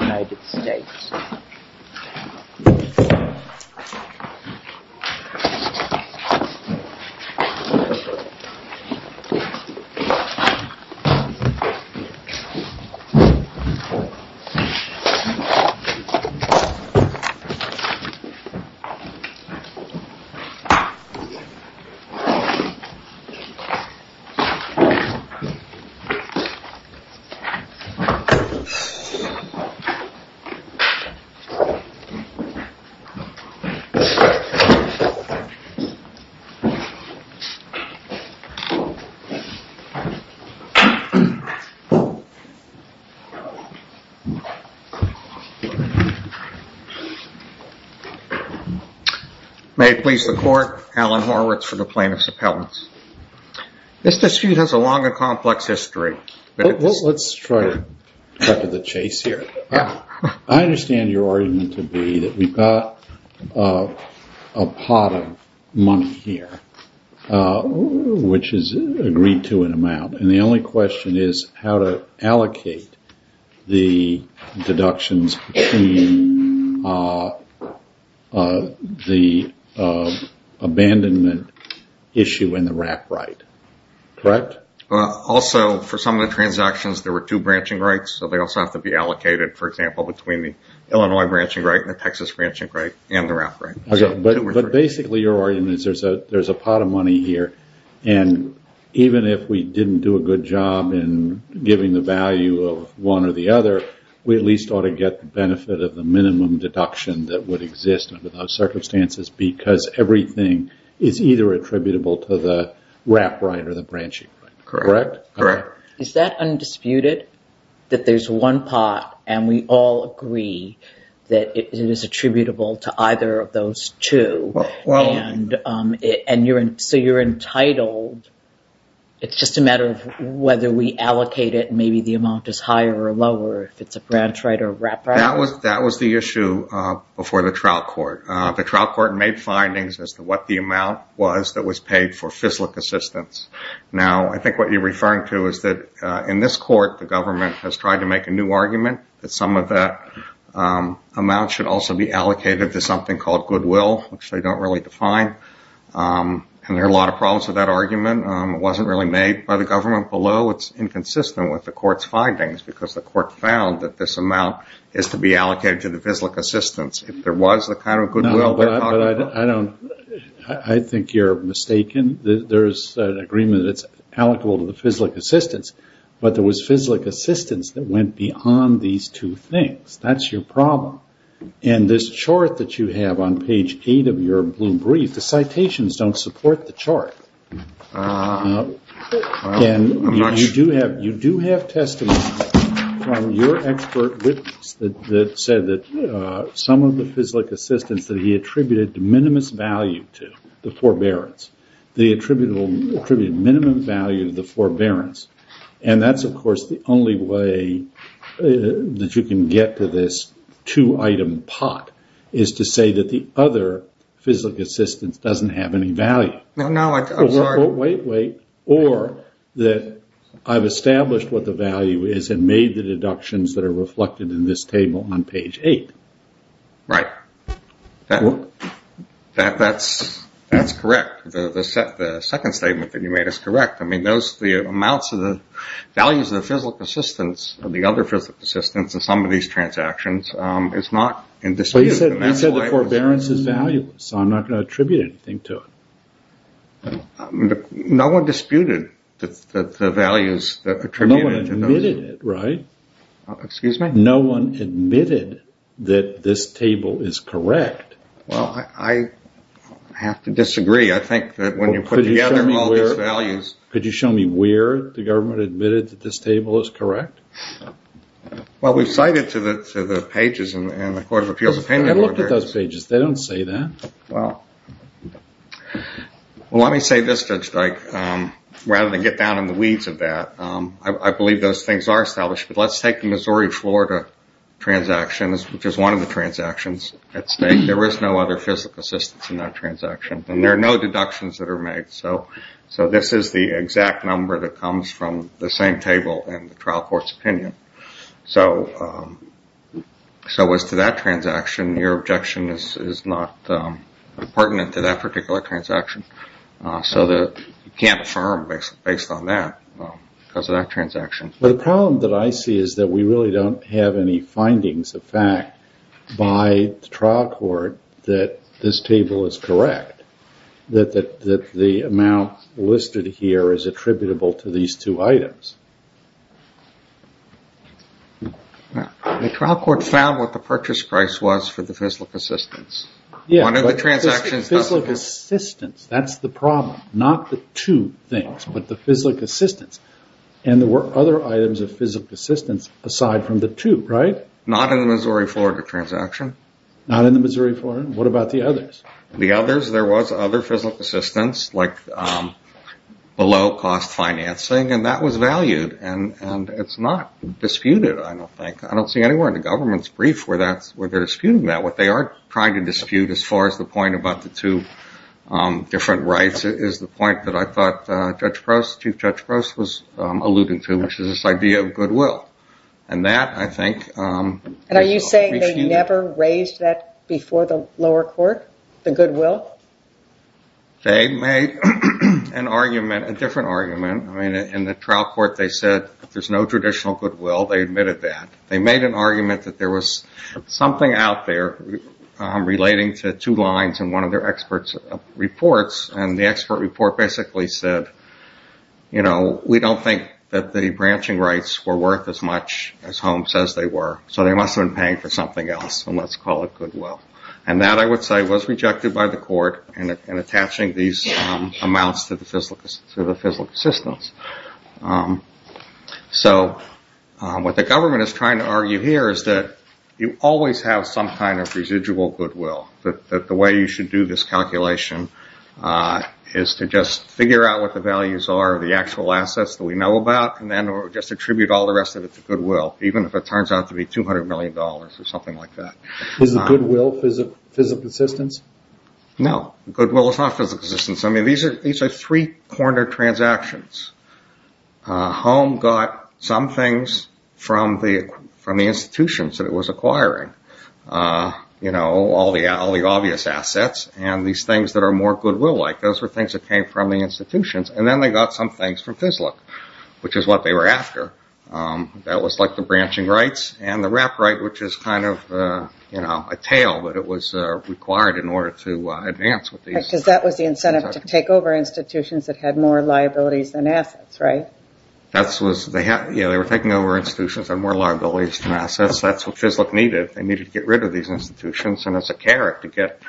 United States May it please the Court, Alan Horwitz for the Plaintiff's Appellants. This dispute has a long and complex history. Let's try to cut to the chase here. I understand your argument to be that we've got a pot of money here, which is agreed to an amount, and the only question is how to allocate the deductions between the abandonment issue and the rap right. Correct? Also, for some of the transactions, there were two branching rights, so they also have to be allocated, for example, between the Illinois branching right and the Texas branching right and the rap right. But basically your argument is there's a pot of money here, and even if we didn't do a good job in giving the value of one or the other, we at least ought to get the benefit of the minimum deduction that would exist under those circumstances because everything is either attributable to the rap right or the branching right. Correct? Correct. Is that undisputed, that there's one pot, and we all agree that it is attributable to either of those two, and so you're entitled. It's just a matter of whether we allocate it, and maybe the amount is higher or lower if it's a branch right or a rap right. That was the issue before the trial court. The trial court made findings as to what the amount was that was paid for FISLIC assistance. Now, I think what you're referring to is that in this court the government has tried to make a new argument that some of that amount should also be allocated to something called goodwill, which they don't really define, and there are a lot of problems with that argument. It wasn't really made by the government below. It's inconsistent with the court's findings because the court found that this amount is to be allocated to the FISLIC assistance. If there was the kind of goodwill they're talking about. No, but I think you're mistaken. There's an agreement that it's allocable to the FISLIC assistance, but there was FISLIC assistance that went beyond these two things. That's your problem, and this chart that you have on page 8 of your blue brief, the citations don't support the chart. You do have testimony from your expert witness that said that some of the FISLIC assistance that he attributed the minimum value to, the forbearance, they attributed minimum value to the forbearance, and that's, of course, the only way that you can get to this two-item pot is to say that the other FISLIC assistance doesn't have any value. No, no, I'm sorry. Wait, wait. Or that I've established what the value is and made the deductions that are reflected in this table on page 8. Right. That's correct. The second statement that you made is correct. I mean, the amounts of the values of the FISLIC assistance or the other FISLIC assistance in some of these transactions is not in dispute. You said the forbearance is valueless, so I'm not going to attribute anything to it. No one disputed the values that are attributed to those. No one admitted it, right? Excuse me? No one admitted that this table is correct. Well, I have to disagree. I think that when you put together all these values. Could you show me where the government admitted that this table is correct? Well, we cited to the pages in the Court of Appeals. I looked at those pages. They don't say that. Well, let me say this, Judge Dyke. Rather than get down in the weeds of that, I believe those things are established. But let's take the Missouri-Florida transactions, which is one of the transactions at stake. There is no other FISLIC assistance in that transaction, and there are no deductions that are made. So this is the exact number that comes from the same table in the trial court's opinion. So as to that transaction, your objection is not pertinent to that particular transaction. So you can't affirm based on that because of that transaction. The problem that I see is that we really don't have any findings of fact by the trial court that this table is correct. That the amount listed here is attributable to these two items. The trial court found what the purchase price was for the FISLIC assistance. Yeah, but the FISLIC assistance, that's the problem. Not the two things, but the FISLIC assistance. And there were other items of FISLIC assistance aside from the two, right? Not in the Missouri-Florida transaction. What about the others? The others, there was other FISLIC assistance, like below-cost financing, and that was valued. And it's not disputed, I don't think. I don't see anywhere in the government's brief where they're disputing that. What they are trying to dispute, as far as the point about the two different rights, is the point that I thought Chief Judge Gross was alluding to, which is this idea of goodwill. And that, I think... And are you saying they never raised that before the lower court, the goodwill? They made an argument, a different argument. I mean, in the trial court, they said there's no traditional goodwill. They admitted that. They made an argument that there was something out there relating to two lines in one of their expert reports. And the expert report basically said, you know, we don't think that the branching rights were worth as much as Holmes says they were. So they must have been paying for something else, and let's call it goodwill. And that, I would say, was rejected by the court in attaching these amounts to the FISLIC assistance. So what the government is trying to argue here is that you always have some kind of residual goodwill, that the way you should do this calculation is to just figure out what the values are, the actual assets that we know about, and then just attribute all the rest of it to goodwill, even if it turns out to be $200 million or something like that. Is the goodwill FISLIC assistance? No, goodwill is not FISLIC assistance. I mean, these are three-corner transactions. Holmes got some things from the institutions that it was acquiring, you know, all the obvious assets. And these things that are more goodwill-like, those were things that came from the institutions. And then they got some things from FISLIC, which is what they were after. That was like the branching rights and the rep right, which is kind of, you know, a tail, but it was required in order to advance with these. Because that was the incentive to take over institutions that had more liabilities than assets, right? Yeah, they were taking over institutions that had more liabilities than assets. That's what FISLIC needed. They needed to get rid of these institutions, and as a carrot to get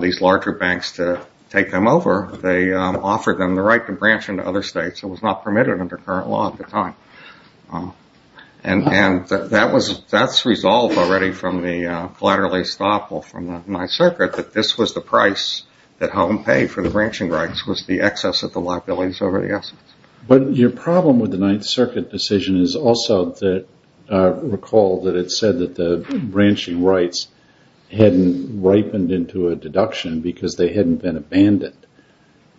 these larger banks to take them over, they offered them the right to branch into other states. It was not permitted under current law at the time. And that's resolved already from the collateral estoppel from the Ninth Circuit, that this was the price that Holmes paid for the branching rights was the excess of the liabilities over the assets. But your problem with the Ninth Circuit decision is also to recall that it said that the branching rights hadn't ripened into a deduction because they hadn't been abandoned.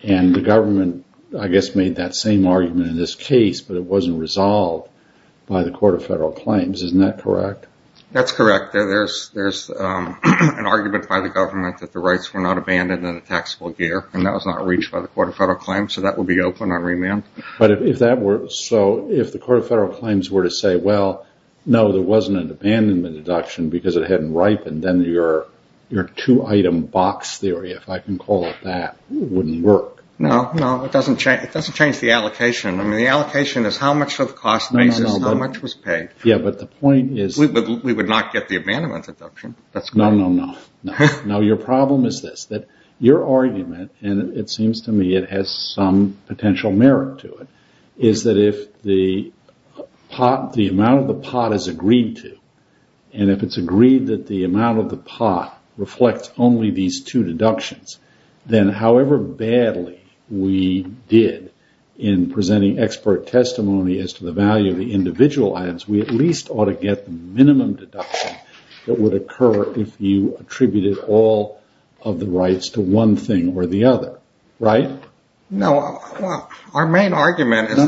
And the government, I guess, made that same argument in this case, but it wasn't resolved by the Court of Federal Claims. Isn't that correct? That's correct. There's an argument by the government that the rights were not abandoned in a taxable year, and that was not reached by the Court of Federal Claims, so that would be open on remand. So if the Court of Federal Claims were to say, well, no, there wasn't an abandonment deduction because it hadn't ripened, then your two-item box theory, if I can call it that, wouldn't work. No, no, it doesn't change the allocation. I mean, the allocation is how much of the cost basis, how much was paid. Yeah, but the point is... We would not get the abandonment deduction. No, no, no. No, your problem is this, that your argument, and it seems to me it has some potential merit to it, is that if the amount of the pot is agreed to, and if it's agreed that the amount of the pot reflects only these two deductions, then however badly we did in presenting expert testimony as to the value of the individual items, we at least ought to get the minimum deduction that would occur if you attributed all of the rights to one thing or the other, right? No, our main argument is... The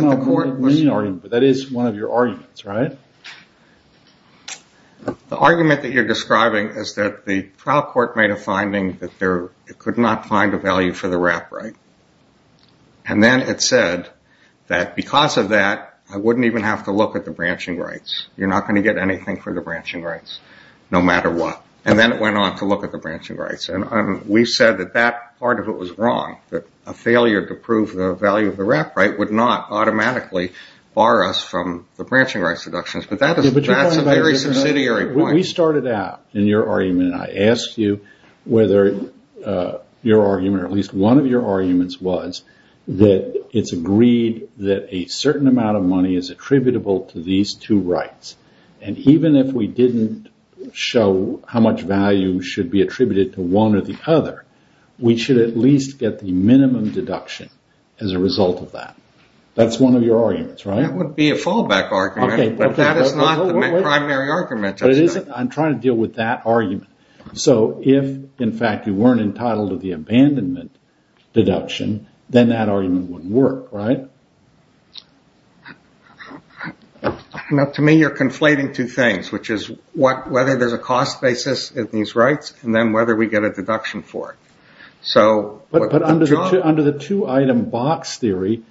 argument that you're describing is that the trial court made a finding that it could not find a value for the wrap right, and then it said that because of that I wouldn't even have to look at the branching rights. You're not going to get anything for the branching rights, no matter what. And then it went on to look at the branching rights. And we've said that that part of it was wrong, that a failure to prove the value of the wrap right would not automatically bar us from the branching rights deductions. But that's a very subsidiary point. We started out in your argument, and I asked you whether your argument, or at least one of your arguments, was that it's agreed that a certain amount of money is attributable to these two rights. And even if we didn't show how much value should be attributed to one or the other, we should at least get the minimum deduction as a result of that. That's one of your arguments, right? That wouldn't be a fallback argument, but that is not the primary argument. I'm trying to deal with that argument. So if, in fact, you weren't entitled to the abandonment deduction, then that argument wouldn't work, right? To me, you're conflating two things, which is whether there's a cost basis of these rights, and then whether we get a deduction for it. But under the two-item box theory,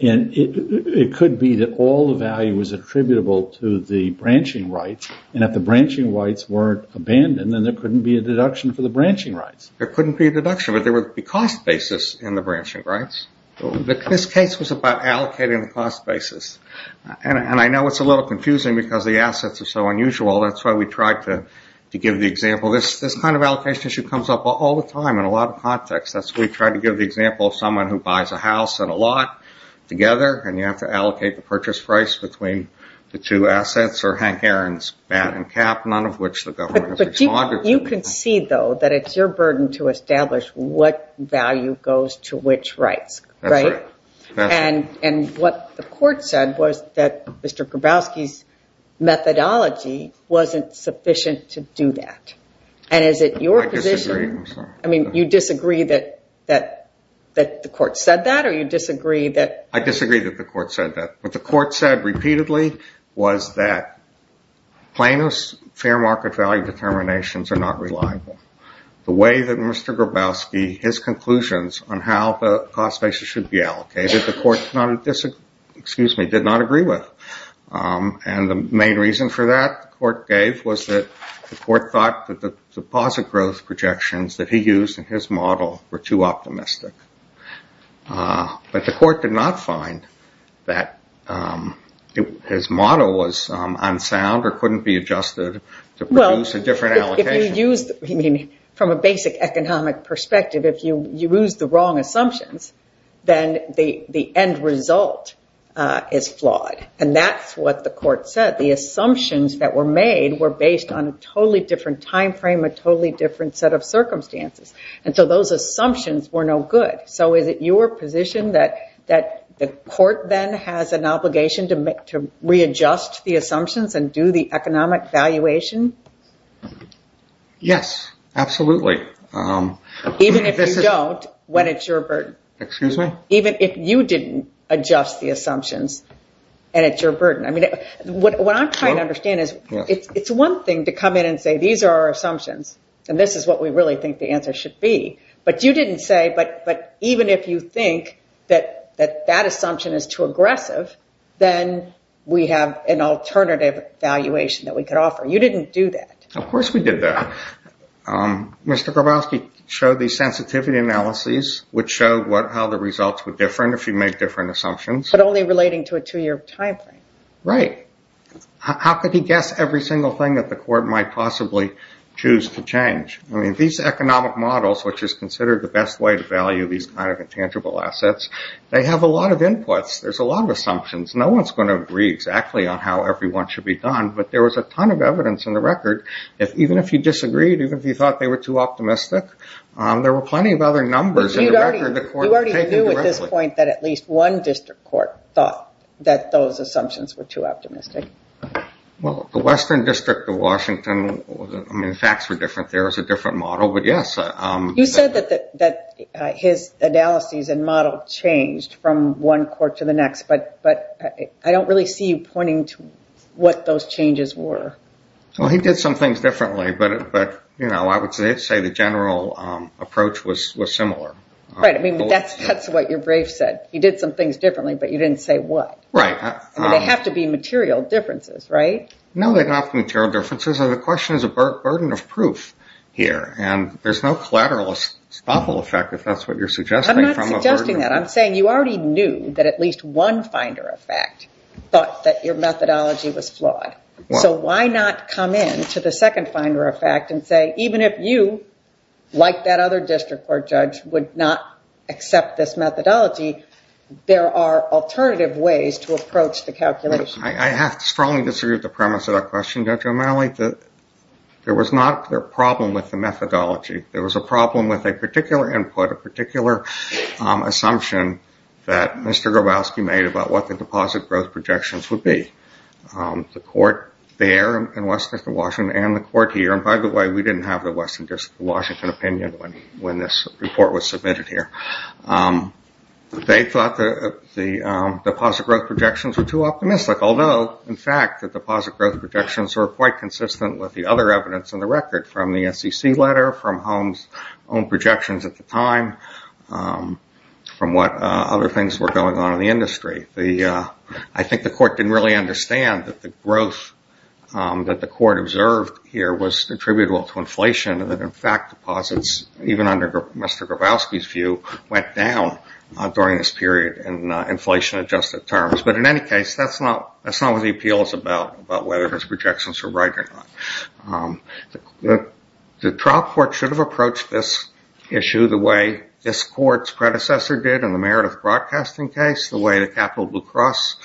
it could be that all the value is attributable to the branching rights, and if the branching rights weren't abandoned, then there couldn't be a deduction for the branching rights. There couldn't be a deduction, but there would be a cost basis in the branching rights. This case was about allocating the cost basis. And I know it's a little confusing because the assets are so unusual. That's why we tried to give the example. This kind of allocation issue comes up all the time in a lot of contexts. That's why we tried to give the example of someone who buys a house and a lot together, and you have to allocate the purchase price between the two assets, or Hank Aaron's bat and cap, none of which the government has responded to. You can see, though, that it's your burden to establish what value goes to which rights, right? That's right. And what the court said was that Mr. Grabowski's methodology wasn't sufficient to do that. And is it your position- I disagree. I'm sorry. I mean, you disagree that the court said that, or you disagree that- I disagree that the court said that. What the court said repeatedly was that Plano's fair market value determinations are not reliable. The way that Mr. Grabowski, his conclusions on how the cost basis should be allocated, the court did not agree with. And the main reason for that the court gave was that the court thought that the deposit growth projections that he used in his model were too optimistic. But the court did not find that his model was unsound or couldn't be adjusted to produce a different allocation. From a basic economic perspective, if you use the wrong assumptions, then the end result is flawed. And that's what the court said. The assumptions that were made were based on a totally different time frame, a totally different set of circumstances. And so those assumptions were no good. So is it your position that the court then has an obligation to readjust the assumptions and do the economic valuation? Yes, absolutely. Even if you don't, when it's your burden. Excuse me? Even if you didn't adjust the assumptions, and it's your burden. I mean, what I'm trying to understand is it's one thing to come in and say, these are our assumptions, and this is what we really think the answer should be. But you didn't say, but even if you think that that assumption is too aggressive, then we have an alternative valuation that we could offer. You didn't do that. Of course we did that. Mr. Grabowski showed these sensitivity analyses, which showed how the results were different, if you made different assumptions. But only relating to a two-year time frame. Right. How could he guess every single thing that the court might possibly choose to change? I mean, these economic models, which is considered the best way to value these kind of intangible assets, they have a lot of inputs. There's a lot of assumptions. No one's going to agree exactly on how everyone should be done. But there was a ton of evidence in the record. Even if you disagreed, even if you thought they were too optimistic, there were plenty of other numbers in the record the court had taken directly. You already knew at this point that at least one district court thought that those assumptions were too optimistic. Well, the Western District of Washington, I mean, the facts were different. There was a different model. You said that his analyses and model changed from one court to the next, but I don't really see you pointing to what those changes were. Well, he did some things differently, but, you know, I would say the general approach was similar. Right. I mean, that's what your brief said. He did some things differently, but you didn't say what. Right. I mean, they have to be material differences, right? No, they're not material differences. The question is a burden of proof here, and there's no collateral stoppable effect if that's what you're suggesting. I'm not suggesting that. I'm saying you already knew that at least one finder of fact thought that your methodology was flawed. So why not come in to the second finder of fact and say, even if you, like that other district court judge, would not accept this methodology, there are alternative ways to approach the calculation? I have strongly disagreed with the premise of that question, Judge O'Malley. There was not a problem with the methodology. There was a problem with a particular input, a particular assumption that Mr. Grabowski made about what the deposit growth projections would be. The court there in Western District of Washington and the court here, and, by the way, we didn't have the Western District of Washington opinion when this report was submitted here. They thought the deposit growth projections were too optimistic, although, in fact, the deposit growth projections were quite consistent with the other evidence in the record from the SEC letter, from Holmes' own projections at the time, from what other things were going on in the industry. I think the court didn't really understand that the growth that the court observed here was attributable to inflation, and that, in fact, deposits, even under Mr. Grabowski's view, went down during this period in inflation-adjusted terms. But, in any case, that's not what the appeal is about, about whether his projections are right or not. The trial court should have approached this issue the way this court's predecessor did in the Meredith Broadcasting case, the way the Capitol Blue Cross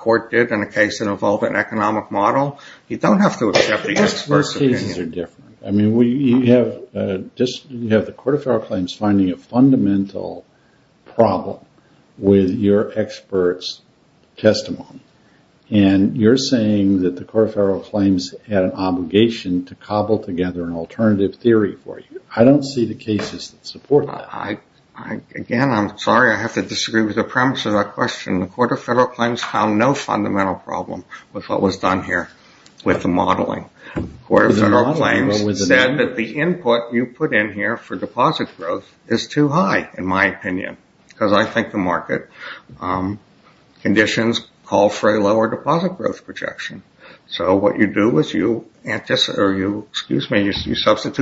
court did in a case that involved an economic model. You don't have to accept the expert's opinion. Those cases are different. You have the Court of Federal Claims finding a fundamental problem with your expert's testimony, and you're saying that the Court of Federal Claims had an obligation to cobble together an alternative theory for you. I don't see the cases that support that. Again, I'm sorry I have to disagree with the premise of that question. The Court of Federal Claims found no fundamental problem with what was done here with the modeling. The Court of Federal Claims said that the input you put in here for deposit growth is too high, in my opinion, because I think the market conditions call for a lower deposit growth projection. So what you do is you substitute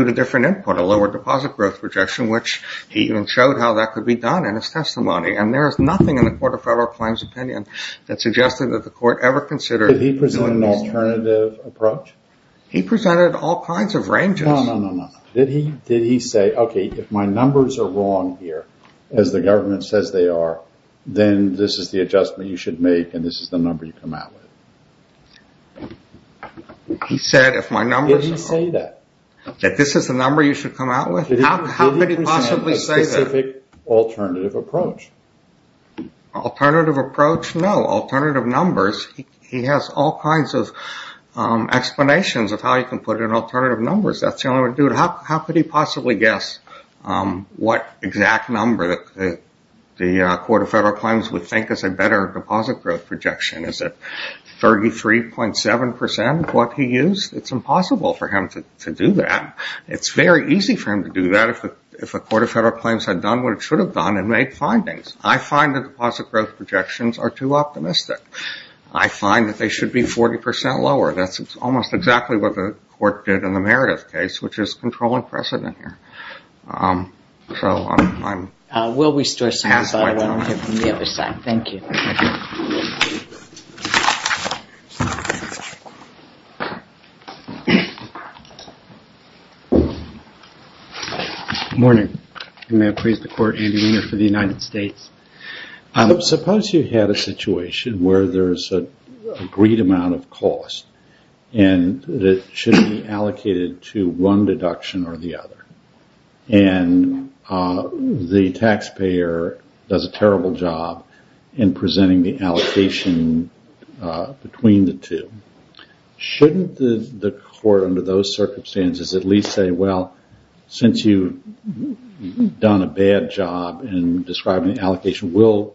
a different input, a lower deposit growth projection, which he even showed how that could be done in his testimony, and there is nothing in the Court of Federal Claims' opinion that suggested that the court ever considered doing this. He presented all kinds of ranges. No, no, no, no. Did he say, okay, if my numbers are wrong here, as the government says they are, then this is the adjustment you should make and this is the number you come out with? He said if my numbers are wrong. Did he say that? That this is the number you should come out with? How could he possibly say that? Did he present a specific alternative approach? Alternative approach? No. Alternative numbers? He has all kinds of explanations of how you can put in alternative numbers. That's the only way to do it. How could he possibly guess what exact number the Court of Federal Claims would think is a better deposit growth projection? Is it 33.7% of what he used? It's impossible for him to do that. It's very easy for him to do that if the Court of Federal Claims had done what it should have done and made findings. I find that deposit growth projections are too optimistic. I find that they should be 40% lower. That's almost exactly what the Court did in the Meredith case, which is controlling precedent here. So I'm halfway done. We'll restore some of that from the other side. Thank you. Good morning. May I praise the Court, Andy Weiner, for the United States? Suppose you had a situation where there's an agreed amount of cost and it should be allocated to one deduction or the other, and the taxpayer does a terrible job in presenting the allocation between the two. Shouldn't the Court, under those circumstances, at least say, well, since you've done a bad job in describing the allocation, we'll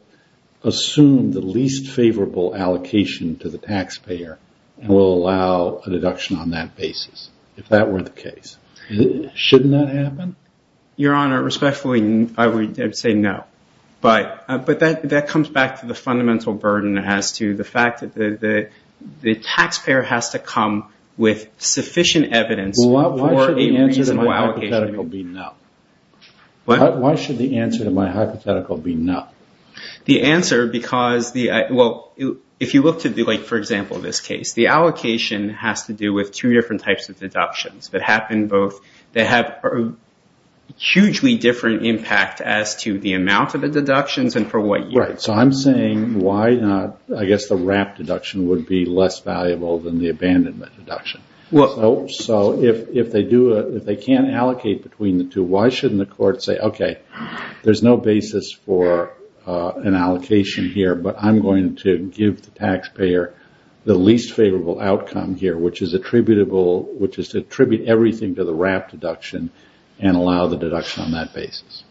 assume the least favorable allocation to the taxpayer and we'll allow a deduction on that basis, if that were the case. Shouldn't that happen? Your Honor, respectfully, I would say no. But that comes back to the fundamental burden as to the fact that the taxpayer has to come with sufficient evidence for a reasonable allocation. Well, why should the answer to my hypothetical be no? What? Why should the answer to my hypothetical be no? The answer, because the – well, if you look to, like, for example, this case, the allocation has to do with two different types of deductions that happen both – impact as to the amount of the deductions and for what year. Right. So I'm saying why not – I guess the wrapped deduction would be less valuable than the abandonment deduction. Well – So if they do – if they can't allocate between the two, why shouldn't the Court say, okay, there's no basis for an allocation here, but I'm going to give the taxpayer the least favorable outcome here, which is attributable – which is to attribute everything to the wrapped deduction and allow the deduction on that basis.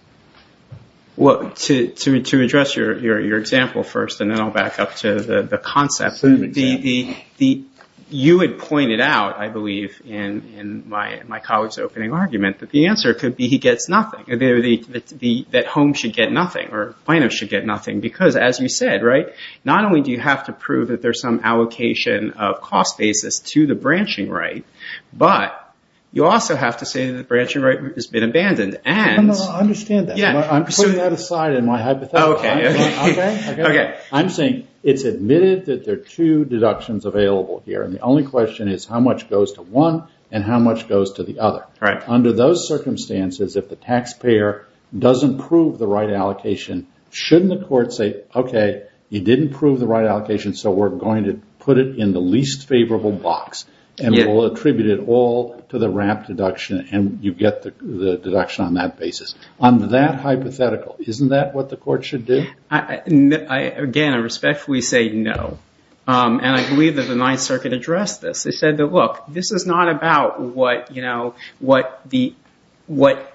Well, to address your example first, and then I'll back up to the concept, the – you had pointed out, I believe, in my colleague's opening argument, that the answer could be he gets nothing, that home should get nothing or finance should get nothing, because as you said, right, not only do you have to prove that there's some allocation of cost basis to the branching right, but you also have to say that the branching right has been abandoned and – No, no, I understand that. Yeah. I'm putting that aside in my hypothetical argument. Okay. Okay? Okay. I'm saying it's admitted that there are two deductions available here, and the only question is how much goes to one and how much goes to the other. Right. Under those circumstances, if the taxpayer doesn't prove the right allocation, shouldn't the court say, okay, you didn't prove the right allocation, so we're going to put it in the least favorable box and we'll attribute it all to the wrapped deduction and you get the deduction on that basis? On that hypothetical, isn't that what the court should do? Again, I respectfully say no, and I believe that the Ninth Circuit addressed this. They said that, look, this is not about what, you know, what the – what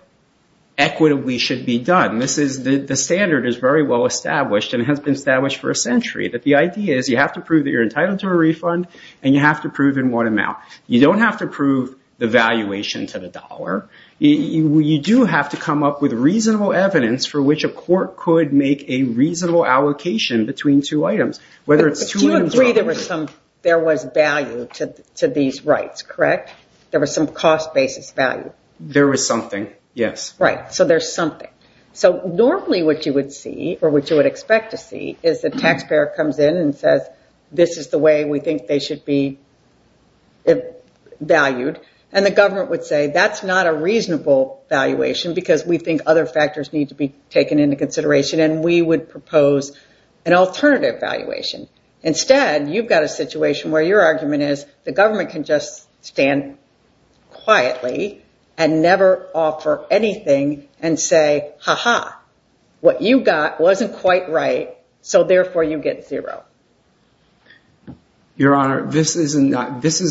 equitably should be done. This is – the standard is very well established and has been established for a century, that the idea is you have to prove that you're entitled to a refund, and you have to prove in what amount. You don't have to prove the valuation to the dollar. You do have to come up with reasonable evidence for which a court could make a reasonable allocation between two items, whether it's two – But you agree there was some – there was value to these rights, correct? There was some cost basis value. There was something, yes. Right. So there's something. So normally what you would see, or what you would expect to see, is the taxpayer comes in and says this is the way we think they should be valued, and the government would say that's not a reasonable valuation because we think other factors need to be taken into consideration, and we would propose an alternative valuation. Instead, you've got a situation where your argument is the government can just stand quietly and never offer anything and say, ha-ha, what you got wasn't quite right, so therefore you get zero. Your Honor, this is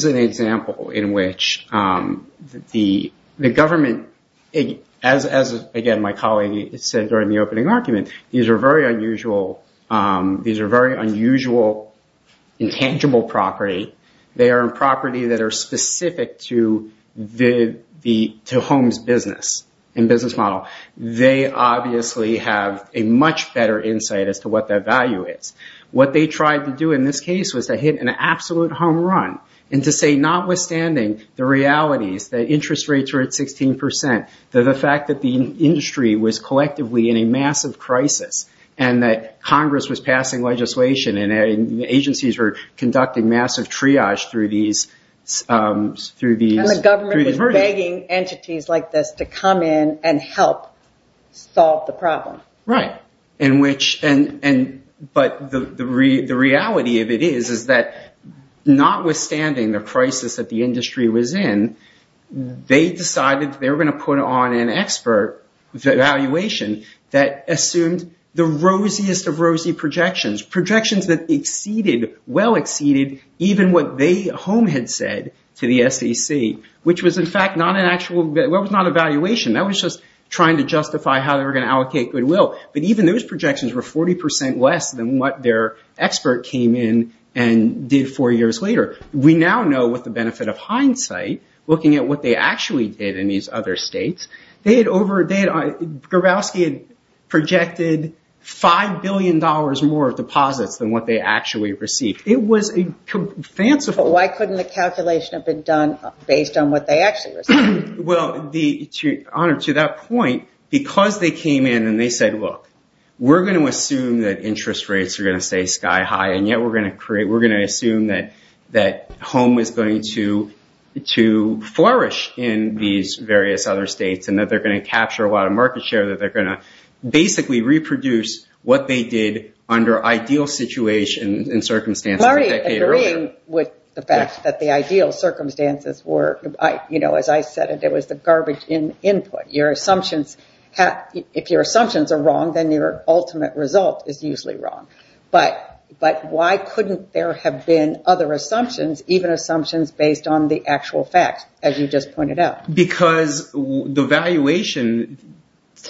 an example in which the government, as again my colleague said during the opening argument, these are very unusual, these are very unusual intangible property. They are property that are specific to the home's business and business model. They obviously have a much better insight as to what that value is. What they tried to do in this case was to hit an absolute home run and to say notwithstanding the realities, the interest rates were at 16%, the fact that the industry was collectively in a massive crisis and that Congress was passing legislation and agencies were conducting massive triage through these verdicts. And the government was begging entities like this to come in and help solve the problem. Right, but the reality of it is that notwithstanding the crisis that the industry was in, they decided they were going to put on an expert evaluation that assumed the rosiest of rosy projections, projections that exceeded, well exceeded even what the home had said to the SEC, which was in fact not an actual, that was not an evaluation, that was just trying to justify how they were going to allocate goodwill. But even those projections were 40% less than what their expert came in and did four years later. We now know with the benefit of hindsight, looking at what they actually did in these other states, they had over, they had, Grabowski had projected $5 billion more of deposits than what they actually received. It was fanciful. But why couldn't the calculation have been done based on what they actually received? Well, to that point, because they came in and they said, look, we're going to assume that interest rates are going to stay sky high and yet we're going to create, we're going to assume that home is going to flourish in these various other states and that they're going to capture a lot of market share, that they're going to basically reproduce what they did under ideal situations and circumstances a decade earlier. I agree with the fact that the ideal circumstances were, you know, as I said, it was the garbage in input. Your assumptions, if your assumptions are wrong, then your ultimate result is usually wrong. But why couldn't there have been other assumptions, even assumptions based on the actual facts, as you just pointed out? Because the valuation,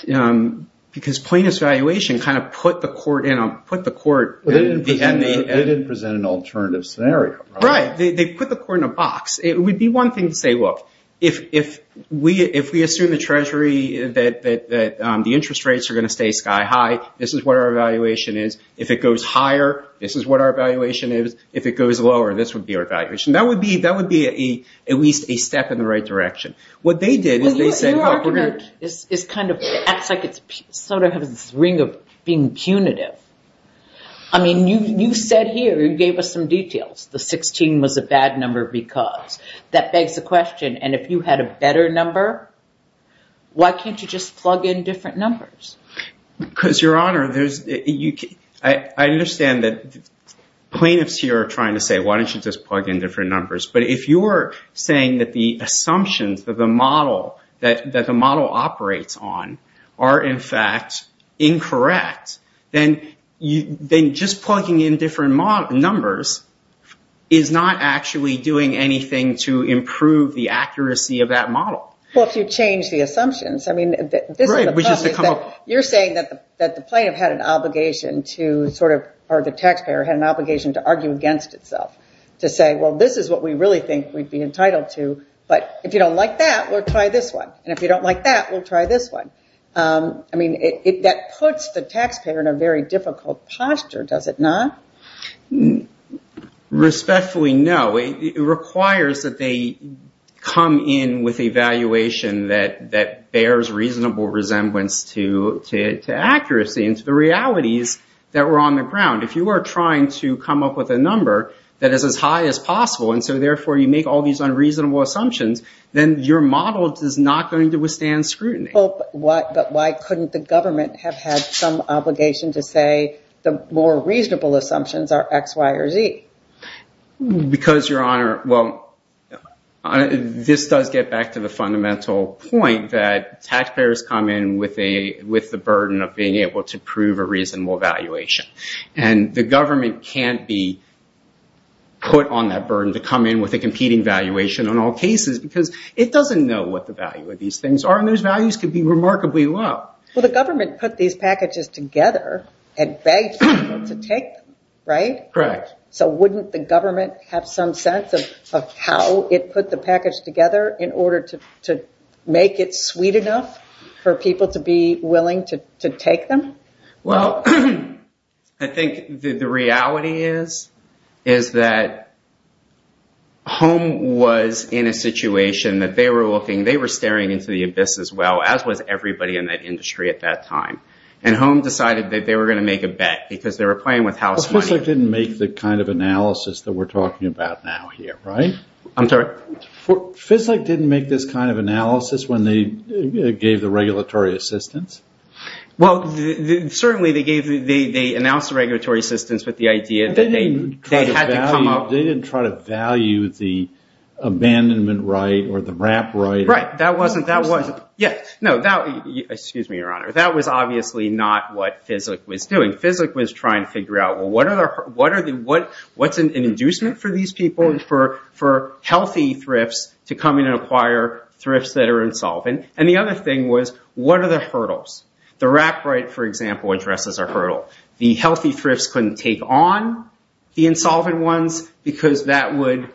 because plaintiff's valuation kind of put the court in a, put the court. They didn't present an alternative scenario. Right. They put the court in a box. It would be one thing to say, look, if we assume the treasury, that the interest rates are going to stay sky high, this is what our evaluation is. If it goes higher, this is what our evaluation is. If it goes lower, this would be our evaluation. That would be at least a step in the right direction. What they did is they said. Your argument is kind of acts like it's sort of has this ring of being punitive. I mean, you said here, you gave us some details. The 16 was a bad number because. That begs the question, and if you had a better number, why can't you just plug in different numbers? Because, Your Honor, I understand that plaintiffs here are trying to say, why don't you just plug in different numbers? But if you are saying that the assumptions of the model, that the model operates on, are in fact incorrect, then just plugging in different numbers is not actually doing anything to improve the accuracy of that model. Well, if you change the assumptions. You're saying that the plaintiff had an obligation to sort of, or the taxpayer had an obligation to argue against itself. To say, well, this is what we really think we'd be entitled to, but if you don't like that, we'll try this one. And if you don't like that, we'll try this one. I mean, that puts the taxpayer in a very difficult posture, does it not? Respectfully, no. It requires that they come in with a valuation that bears reasonable resemblance to accuracy and to the realities that were on the ground. If you are trying to come up with a number that is as high as possible, and so therefore you make all these unreasonable assumptions, then your model is not going to withstand scrutiny. But why couldn't the government have had some obligation to say, the more reasonable assumptions are X, Y, or Z? Because, Your Honor, well, this does get back to the fundamental point that taxpayers come in with the burden of being able to prove a reasonable valuation. And the government can't be put on that burden to come in with a competing valuation on all cases because it doesn't know what the value of these things are, and those values could be remarkably low. Well, the government put these packages together and begged them to take them, right? Correct. So wouldn't the government have some sense of how it put the package together in order to make it sweet enough for people to be willing to take them? Well, I think the reality is that Home was in a situation that they were looking, they were staring into the abyss as well, as was everybody in that industry at that time. And Home decided that they were going to make a bet because they were playing with house money. FISLIC didn't make the kind of analysis that we're talking about now here, right? I'm sorry? FISLIC didn't make this kind of analysis when they gave the regulatory assistance? Well, certainly they announced the regulatory assistance with the idea that they had to come up. They didn't try to value the abandonment right or the wrap right. Right. That wasn't, that was, yeah. No, that, excuse me, Your Honor, that was obviously not what FISLIC was doing. FISLIC was trying to figure out, well, what's an inducement for these people and for healthy thrifts to come in and acquire thrifts that are insolvent? And the other thing was, what are the hurdles? The wrap right, for example, addresses a hurdle. The healthy thrifts couldn't take on the insolvent ones because that would,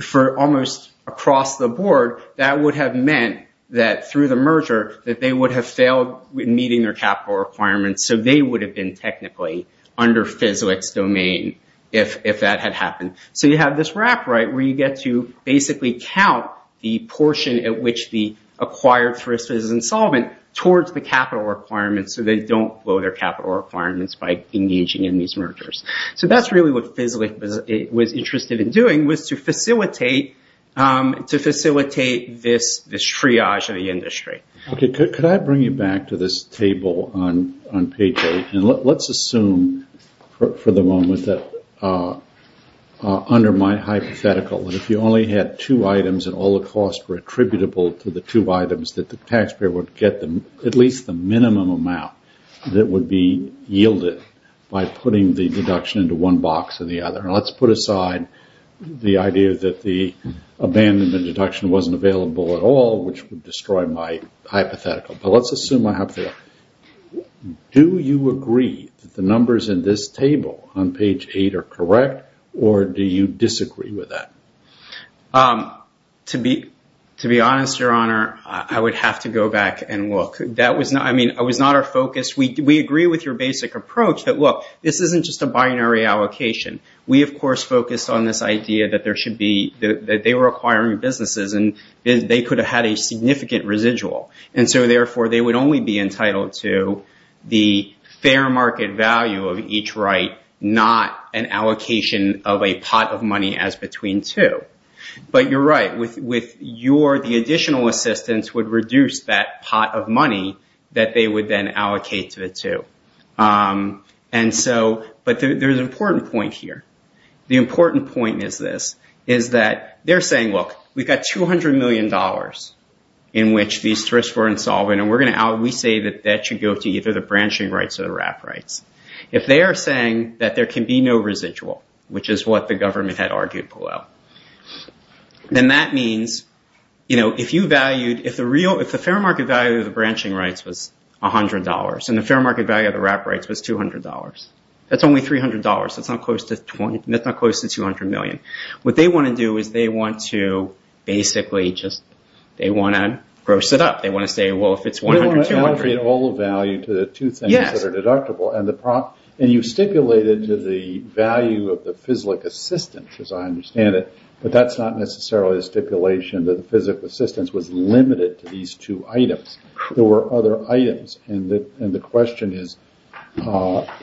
for almost across the board, that would have meant that through the merger, that they would have failed in meeting their capital requirements. So they would have been technically under FISLIC's domain if that had happened. So you have this wrap right where you get to basically count the portion at which the acquired thrift is insolvent towards the capital requirements so they don't blow their capital requirements by engaging in these mergers. So that's really what FISLIC was interested in doing was to facilitate this triage of the industry. Okay, could I bring you back to this table on payday? And let's assume for the moment that under my hypothetical, that if you only had two items and all the costs were attributable to the two items, that the taxpayer would get at least the minimum amount that would be yielded by putting the deduction into one box or the other. And let's put aside the idea that the abandonment deduction wasn't available at all, which would destroy my hypothetical. But let's assume I have that. Do you agree that the numbers in this table on page eight are correct, or do you disagree with that? To be honest, Your Honor, I would have to go back and look. That was not our focus. We agree with your basic approach that, look, this isn't just a binary allocation. We, of course, focused on this idea that they were acquiring businesses and they could have had a significant residual. And so, therefore, they would only be entitled to the fair market value of each right, not an allocation of a pot of money as between two. But you're right. The additional assistance would reduce that pot of money that they would then allocate to the two. But there's an important point here. The important point is this, is that they're saying, look, we've got $200 million in which these thrifts were insolvent, and we say that that should go to either the branching rights or the wrap rights. If they are saying that there can be no residual, which is what the government had argued below, then that means if the fair market value of the branching rights was $100 and the fair market value of the wrap rights was $200, that's only $300. That's not close to $200 million. What they want to do is they want to basically just gross it up. They want to say, well, if it's $100, $200. You want to allocate all the value to the two things that are deductible. And you stipulated to the value of the FISLIC assistance, as I understand it, but that's not necessarily a stipulation that the FISLIC assistance was limited to these two items. There were other items. And the question is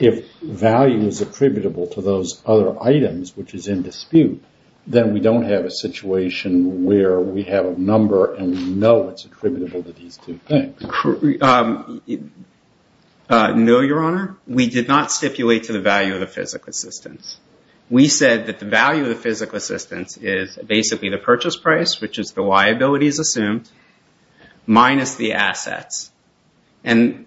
if value is attributable to those other items, which is in dispute, then we don't have a situation where we have a number and we know it's attributable to these two things. No, Your Honor. We did not stipulate to the value of the FISLIC assistance. We said that the value of the FISLIC assistance is basically the purchase price, which is the liabilities assumed, minus the assets. And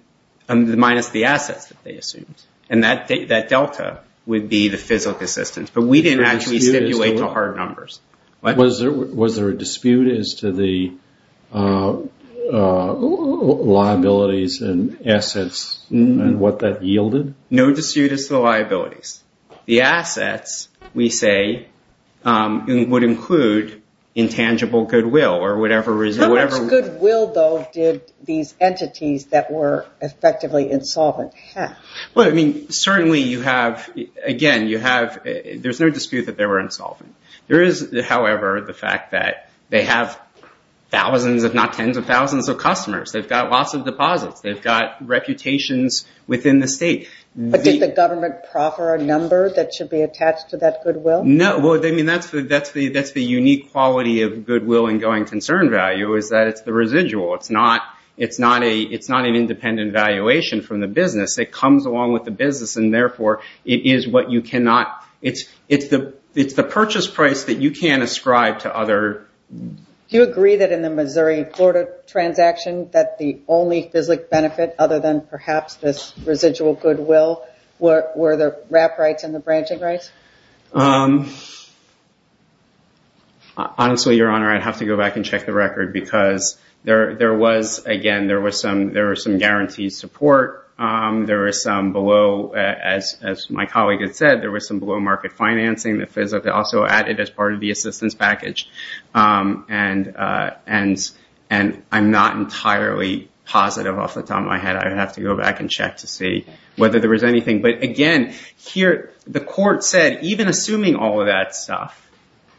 minus the assets that they assumed. And that delta would be the FISLIC assistance. But we didn't actually stipulate to hard numbers. Was there a dispute as to the liabilities and assets and what that yielded? No dispute as to the liabilities. The assets, we say, would include intangible goodwill or whatever reason. How much goodwill, though, did these entities that were effectively insolvent have? Certainly, again, there's no dispute that they were insolvent. There is, however, the fact that they have thousands, if not tens of thousands of customers. They've got lots of deposits. They've got reputations within the state. But did the government proffer a number that should be attached to that goodwill? No. I mean, that's the unique quality of goodwill and going concern value is that it's the residual. It's not an independent valuation from the business. It comes along with the business and, therefore, it is what you cannot – it's the purchase price that you can't ascribe to other – Do you agree that in the Missouri-Florida transaction that the only FISLIC benefit, other than perhaps this residual goodwill, were the wrap rights and the branching rights? Honestly, Your Honor, I'd have to go back and check the record because there was – again, there was some guaranteed support. There was some below – as my colleague had said, there was some below market financing. The FISLIC also added as part of the assistance package. And I'm not entirely positive off the top of my head. I'd have to go back and check to see whether there was anything. But, again, here the court said, even assuming all of that stuff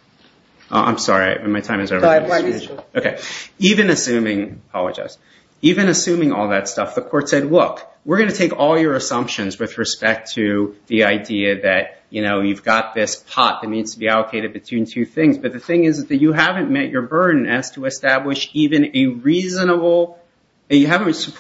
– I'm sorry. My time is over. Go ahead. Even assuming – I apologize. Even assuming all that stuff, the court said, look, we're going to take all your assumptions with respect to the idea that you've got this pot that needs to be allocated between two things. But the thing is that you haven't met your burden as to establish even a reasonable – with respect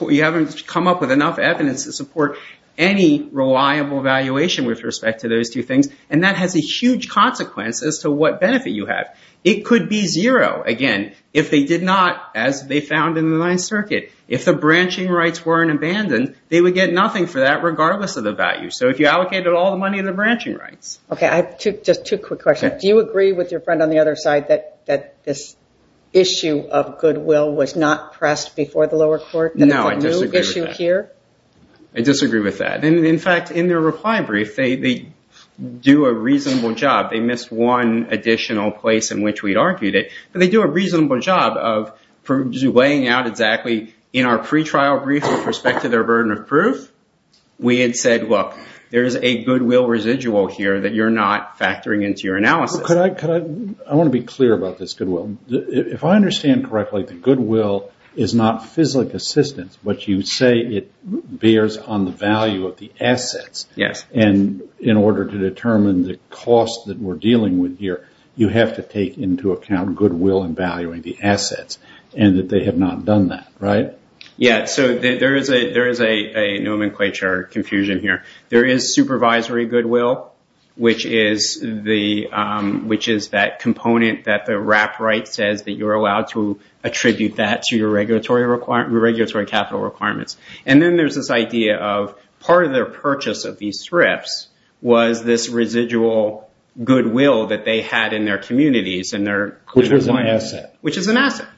to those two things. And that has a huge consequence as to what benefit you have. It could be zero, again, if they did not, as they found in the Ninth Circuit. If the branching rights weren't abandoned, they would get nothing for that regardless of the value. So if you allocated all the money in the branching rights. Okay. Just two quick questions. Do you agree with your friend on the other side that this issue of goodwill was not pressed before the lower court? No, I disagree with that. And it's a new issue here? I disagree with that. In fact, in their reply brief, they do a reasonable job. They missed one additional place in which we'd argued it. But they do a reasonable job of laying out exactly in our pretrial brief with respect to their burden of proof. We had said, look, there is a goodwill residual here that you're not factoring into your analysis. I want to be clear about this goodwill. If I understand correctly, the goodwill is not physical assistance, but you say it bears on the value of the assets. Yes. And in order to determine the cost that we're dealing with here, you have to take into account goodwill and valuing the assets. And that they have not done that, right? Yes. So there is a nomenclature confusion here. There is supervisory goodwill, which is that component that the wrap right says that you're allowed to attribute that to your regulatory capital requirements. And then there's this idea of part of their purchase of these strips was this residual goodwill that they had in their communities. Which is an asset. Which is an asset.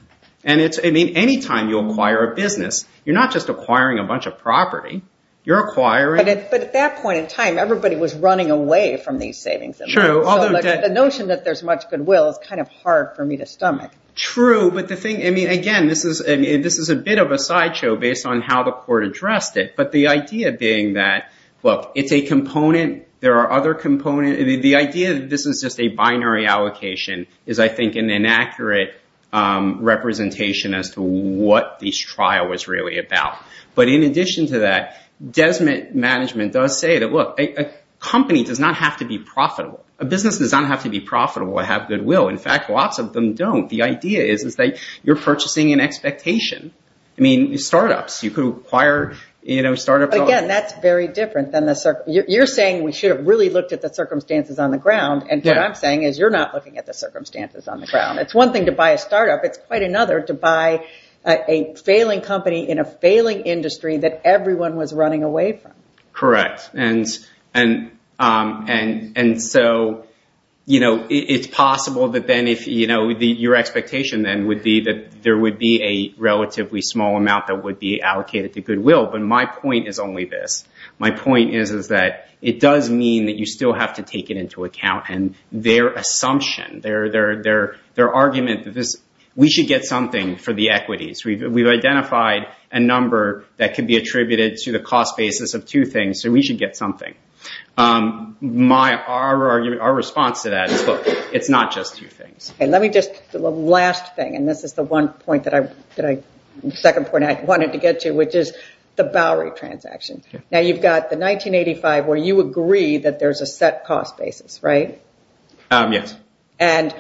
And anytime you acquire a business, you're not just acquiring a bunch of property. You're acquiring. But at that point in time, everybody was running away from these savings. True. The notion that there's much goodwill is kind of hard for me to stomach. True. But the thing, I mean, again, this is a bit of a sideshow based on how the court addressed it. But the idea being that, look, it's a component. There are other components. The idea that this is just a binary allocation is, I think, an inaccurate representation as to what this trial was really about. But in addition to that, Desmond Management does say that, look, a company does not have to be profitable. A business does not have to be profitable to have goodwill. In fact, lots of them don't. The idea is that you're purchasing an expectation. I mean, startups, you could acquire startups. Again, that's very different than the circumstances. You're saying we should have really looked at the circumstances on the ground. And what I'm saying is you're not looking at the circumstances on the ground. It's one thing to buy a startup. It's quite another to buy a failing company in a failing industry that everyone was running away from. Correct. And so it's possible that then your expectation then would be that there would be a relatively small amount that would be allocated to goodwill. But my point is only this. My point is that it does mean that you still have to take it into account. And their assumption, their argument, we should get something for the equities. We've identified a number that could be attributed to the cost basis of two things, so we should get something. Our response to that is, look, it's not just two things. And let me just – the last thing, and this is the one point that I – the second point I wanted to get to, which is the Bowery transaction. Now, you've got the 1985 where you agree that there's a set cost basis, right? Yes. And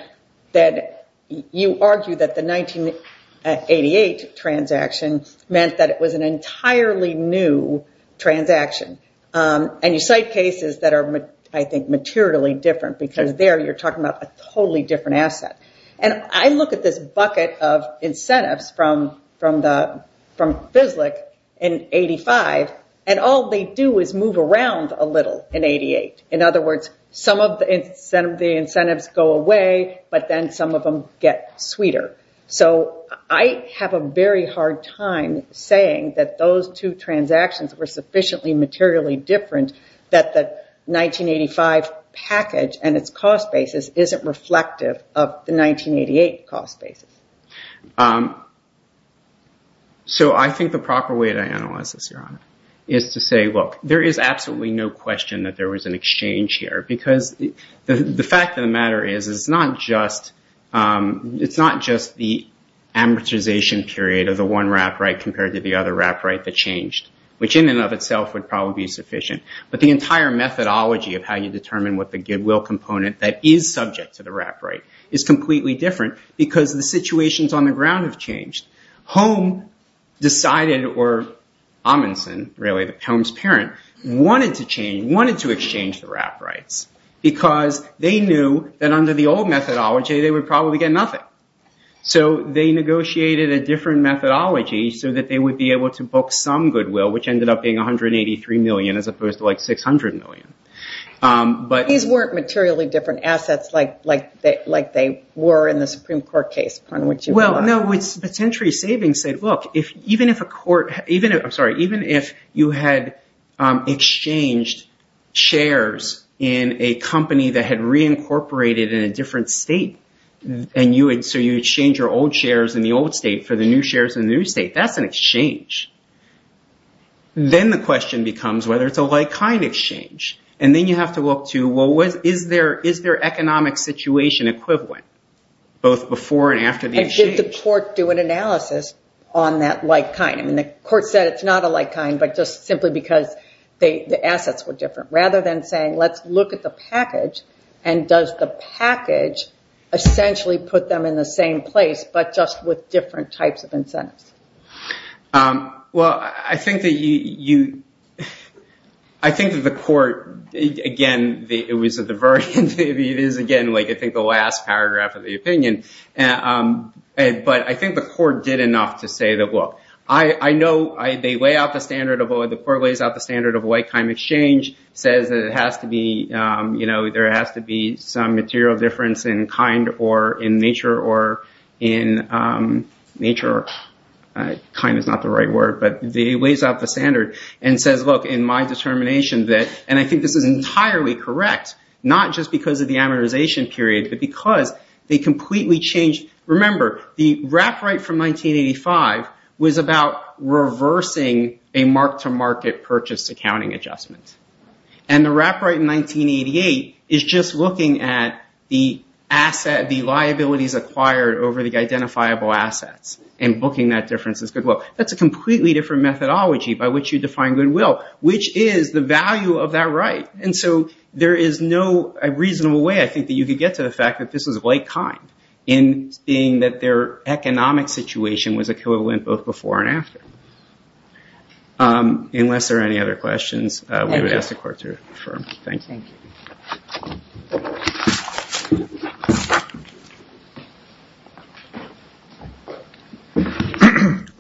that you argue that the 1988 transaction meant that it was an entirely new transaction. And you cite cases that are, I think, materially different because there you're talking about a totally different asset. And I look at this bucket of incentives from FISLIC in 1985, and all they do is move around a little in 1988. In other words, some of the incentives go away, but then some of them get sweeter. So I have a very hard time saying that those two transactions were sufficiently materially different that the 1985 package and its cost basis isn't reflective of the 1988 cost basis. So I think the proper way to analyze this, Your Honor, is to say, look, there is absolutely no question that there was an exchange here. Because the fact of the matter is it's not just the amortization period of the one wrap right compared to the other wrap right that changed, which in and of itself would probably be sufficient. But the entire methodology of how you determine what the goodwill component that is subject to the wrap right is completely different because the situations on the ground have changed. Home decided, or Amundsen, really, Home's parent, wanted to change, wanted to exchange the wrap rights because they knew that under the old methodology they would probably get nothing. So they negotiated a different methodology so that they would be able to book some goodwill, which ended up being $183 million as opposed to $600 million. These weren't materially different assets like they were in the Supreme Court case upon which you brought up. No, it's potentially savings. Look, even if you had exchanged shares in a company that had reincorporated in a different state and so you exchange your old shares in the old state for the new shares in the new state, that's an exchange. Then the question becomes whether it's a like-kind exchange. And then you have to look to, well, is their economic situation equivalent, both before and after the exchange? Did the court do an analysis on that like-kind? I mean, the court said it's not a like-kind, but just simply because the assets were different. Rather than saying, let's look at the package and does the package essentially put them in the same place, but just with different types of incentives? Well, I think that the court, again, it was at the very end. It is, again, I think the last paragraph of the opinion. But I think the court did enough to say that, well, I know the court lays out the standard of a like-kind exchange, says that there has to be some material difference in kind or in nature. Kind is not the right word, but it lays out the standard and says, look, in my determination that, and I think this is entirely correct, not just because of the amortization period, but because they completely changed. Remember, the Wrapright from 1985 was about reversing a mark-to-market purchase accounting adjustment. And the Wrapright in 1988 is just looking at the liabilities acquired over the identifiable assets and booking that difference as goodwill. That's a completely different methodology by which you define goodwill, which is the value of that right. And so there is no reasonable way, I think, that you could get to the fact that this was a like-kind in seeing that their economic situation was equivalent both before and after. Unless there are any other questions, we would ask the court to confirm. Thank you.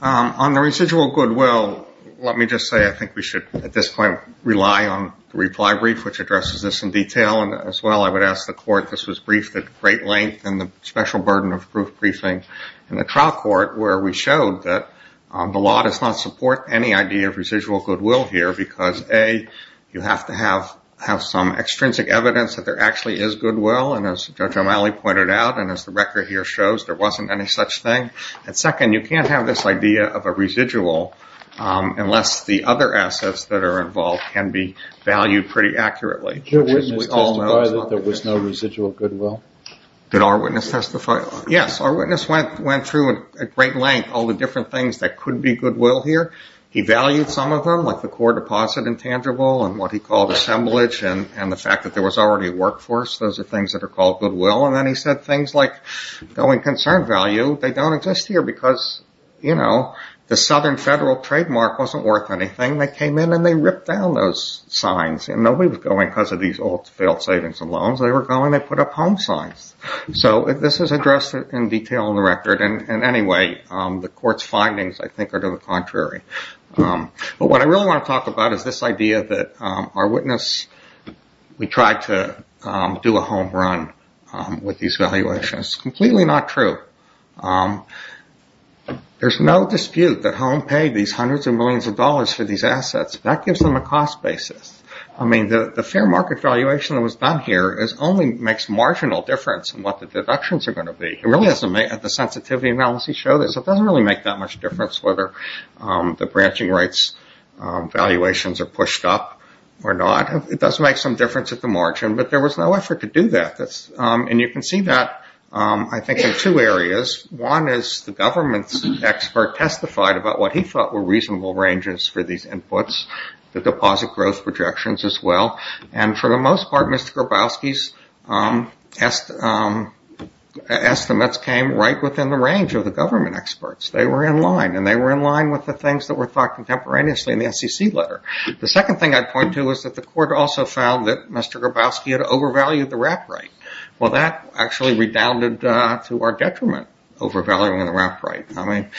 On the residual goodwill, let me just say I think we should at this point rely on the reply brief, which addresses this in detail. As well, I would ask the court, this was briefed at great length in the special burden of proof briefing in the trial court where we showed that the law does not support any idea of residual goodwill here because, A, you have to have some extrinsic evidence that there actually is goodwill. And as Judge O'Malley pointed out and as the record here shows, there wasn't any such thing. And second, you can't have this idea of a residual unless the other assets that are involved can be valued pretty accurately. Did your witness testify that there was no residual goodwill? Did our witness testify? Yes. Our witness went through at great length all the different things that could be goodwill here. He valued some of them, like the core deposit intangible and what he called assemblage and the fact that there was already a workforce. Those are things that are called goodwill. And then he said things like going concern value, they don't exist here because, you know, the southern federal trademark wasn't worth anything. They came in and they ripped down those signs and nobody was going because of these old failed savings and loans. They were going and they put up home signs. So this is addressed in detail in the record. And anyway, the court's findings, I think, are to the contrary. But what I really want to talk about is this idea that our witness, we tried to do a home run with these valuations. It's completely not true. There's no dispute that home paid these hundreds of millions of dollars for these assets. That gives them a cost basis. I mean, the fair market valuation that was done here only makes marginal difference in what the deductions are going to be. It really doesn't make the sensitivity analysis show this. It doesn't really make that much difference whether the branching rights valuations are pushed up or not. It does make some difference at the margin. But there was no effort to do that. And you can see that, I think, in two areas. One is the government's expert testified about what he thought were reasonable ranges for these inputs, the deposit growth projections as well. And for the most part, Mr. Grabowski's estimates came right within the range of the government experts. They were in line and they were in line with the things that were thought contemporaneously in the SEC letter. The second thing I'd point to is that the court also found that Mr. Grabowski had overvalued the wrap rate. Well, that actually redounded to our detriment, overvaluing the wrap rate. I mean,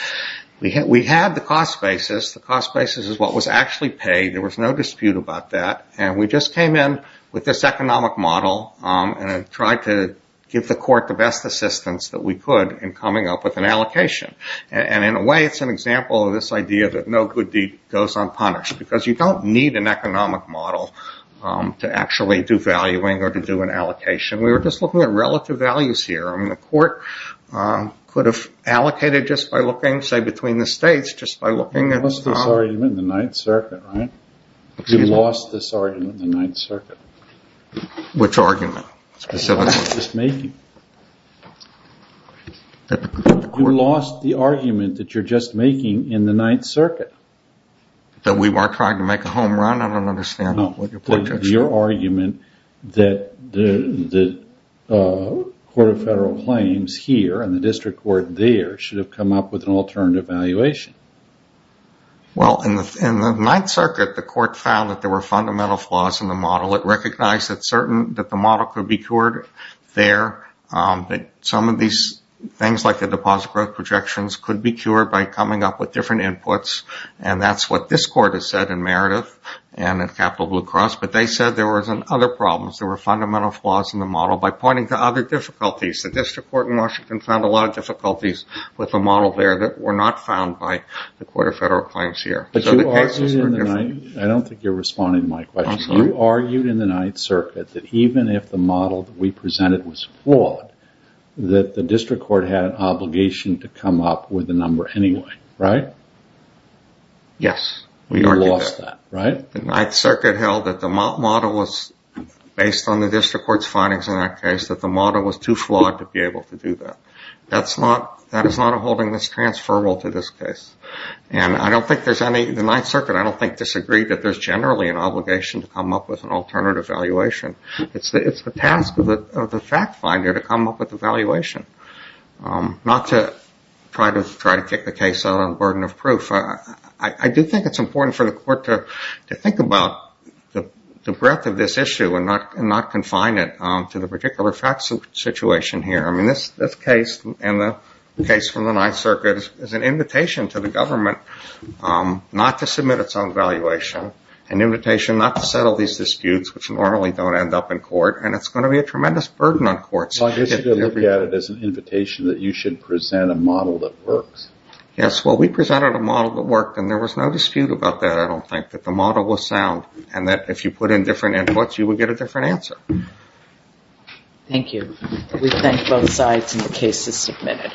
we had the cost basis. The cost basis is what was actually paid. There was no dispute about that. And we just came in with this economic model and tried to give the court the best assistance that we could in coming up with an allocation. And in a way, it's an example of this idea that no good deed goes unpunished. Because you don't need an economic model to actually do valuing or to do an allocation. We were just looking at relative values here. I mean, the court could have allocated just by looking, say, between the states, just by looking at the cost. You lost this argument in the Ninth Circuit, right? You lost this argument in the Ninth Circuit. Which argument? The argument that you're just making. You lost the argument that you're just making in the Ninth Circuit. That we weren't trying to make a home run? I don't understand what you're projecting. Your argument that the Court of Federal Claims here and the district court there should have come up with an alternative valuation. Well, in the Ninth Circuit, the court found that there were fundamental flaws in the model. It recognized that the model could be cured there. Some of these things, like the deposit growth projections, could be cured by coming up with different inputs. And that's what this court has said in Meredith and in Capital Blue Cross. But they said there were other problems. There were fundamental flaws in the model by pointing to other difficulties. The district court in Washington found a lot of difficulties with the model there that were not found by the Court of Federal Claims here. I don't think you're responding to my question. You argued in the Ninth Circuit that even if the model that we presented was flawed, that the district court had an obligation to come up with a number anyway, right? Yes. We lost that, right? The Ninth Circuit held that the model was, based on the district court's findings in that case, that the model was too flawed to be able to do that. That is not a holding that's transferable to this case. And I don't think there's any – the Ninth Circuit, I don't think, disagreed that there's generally an obligation to come up with an alternative valuation. It's the task of the fact finder to come up with a valuation, not to try to kick the case out on a burden of proof. I do think it's important for the court to think about the breadth of this issue and not confine it to the particular fact situation here. I mean, this case and the case from the Ninth Circuit is an invitation to the government not to submit its own valuation, an invitation not to settle these disputes, which normally don't end up in court, and it's going to be a tremendous burden on courts. I guess you could look at it as an invitation that you should present a model that works. Yes, well, we presented a model that worked, and there was no dispute about that, I don't think, that the model was sound and that if you put in different inputs, you would get a different answer. Thank you. We thank both sides, and the case is submitted.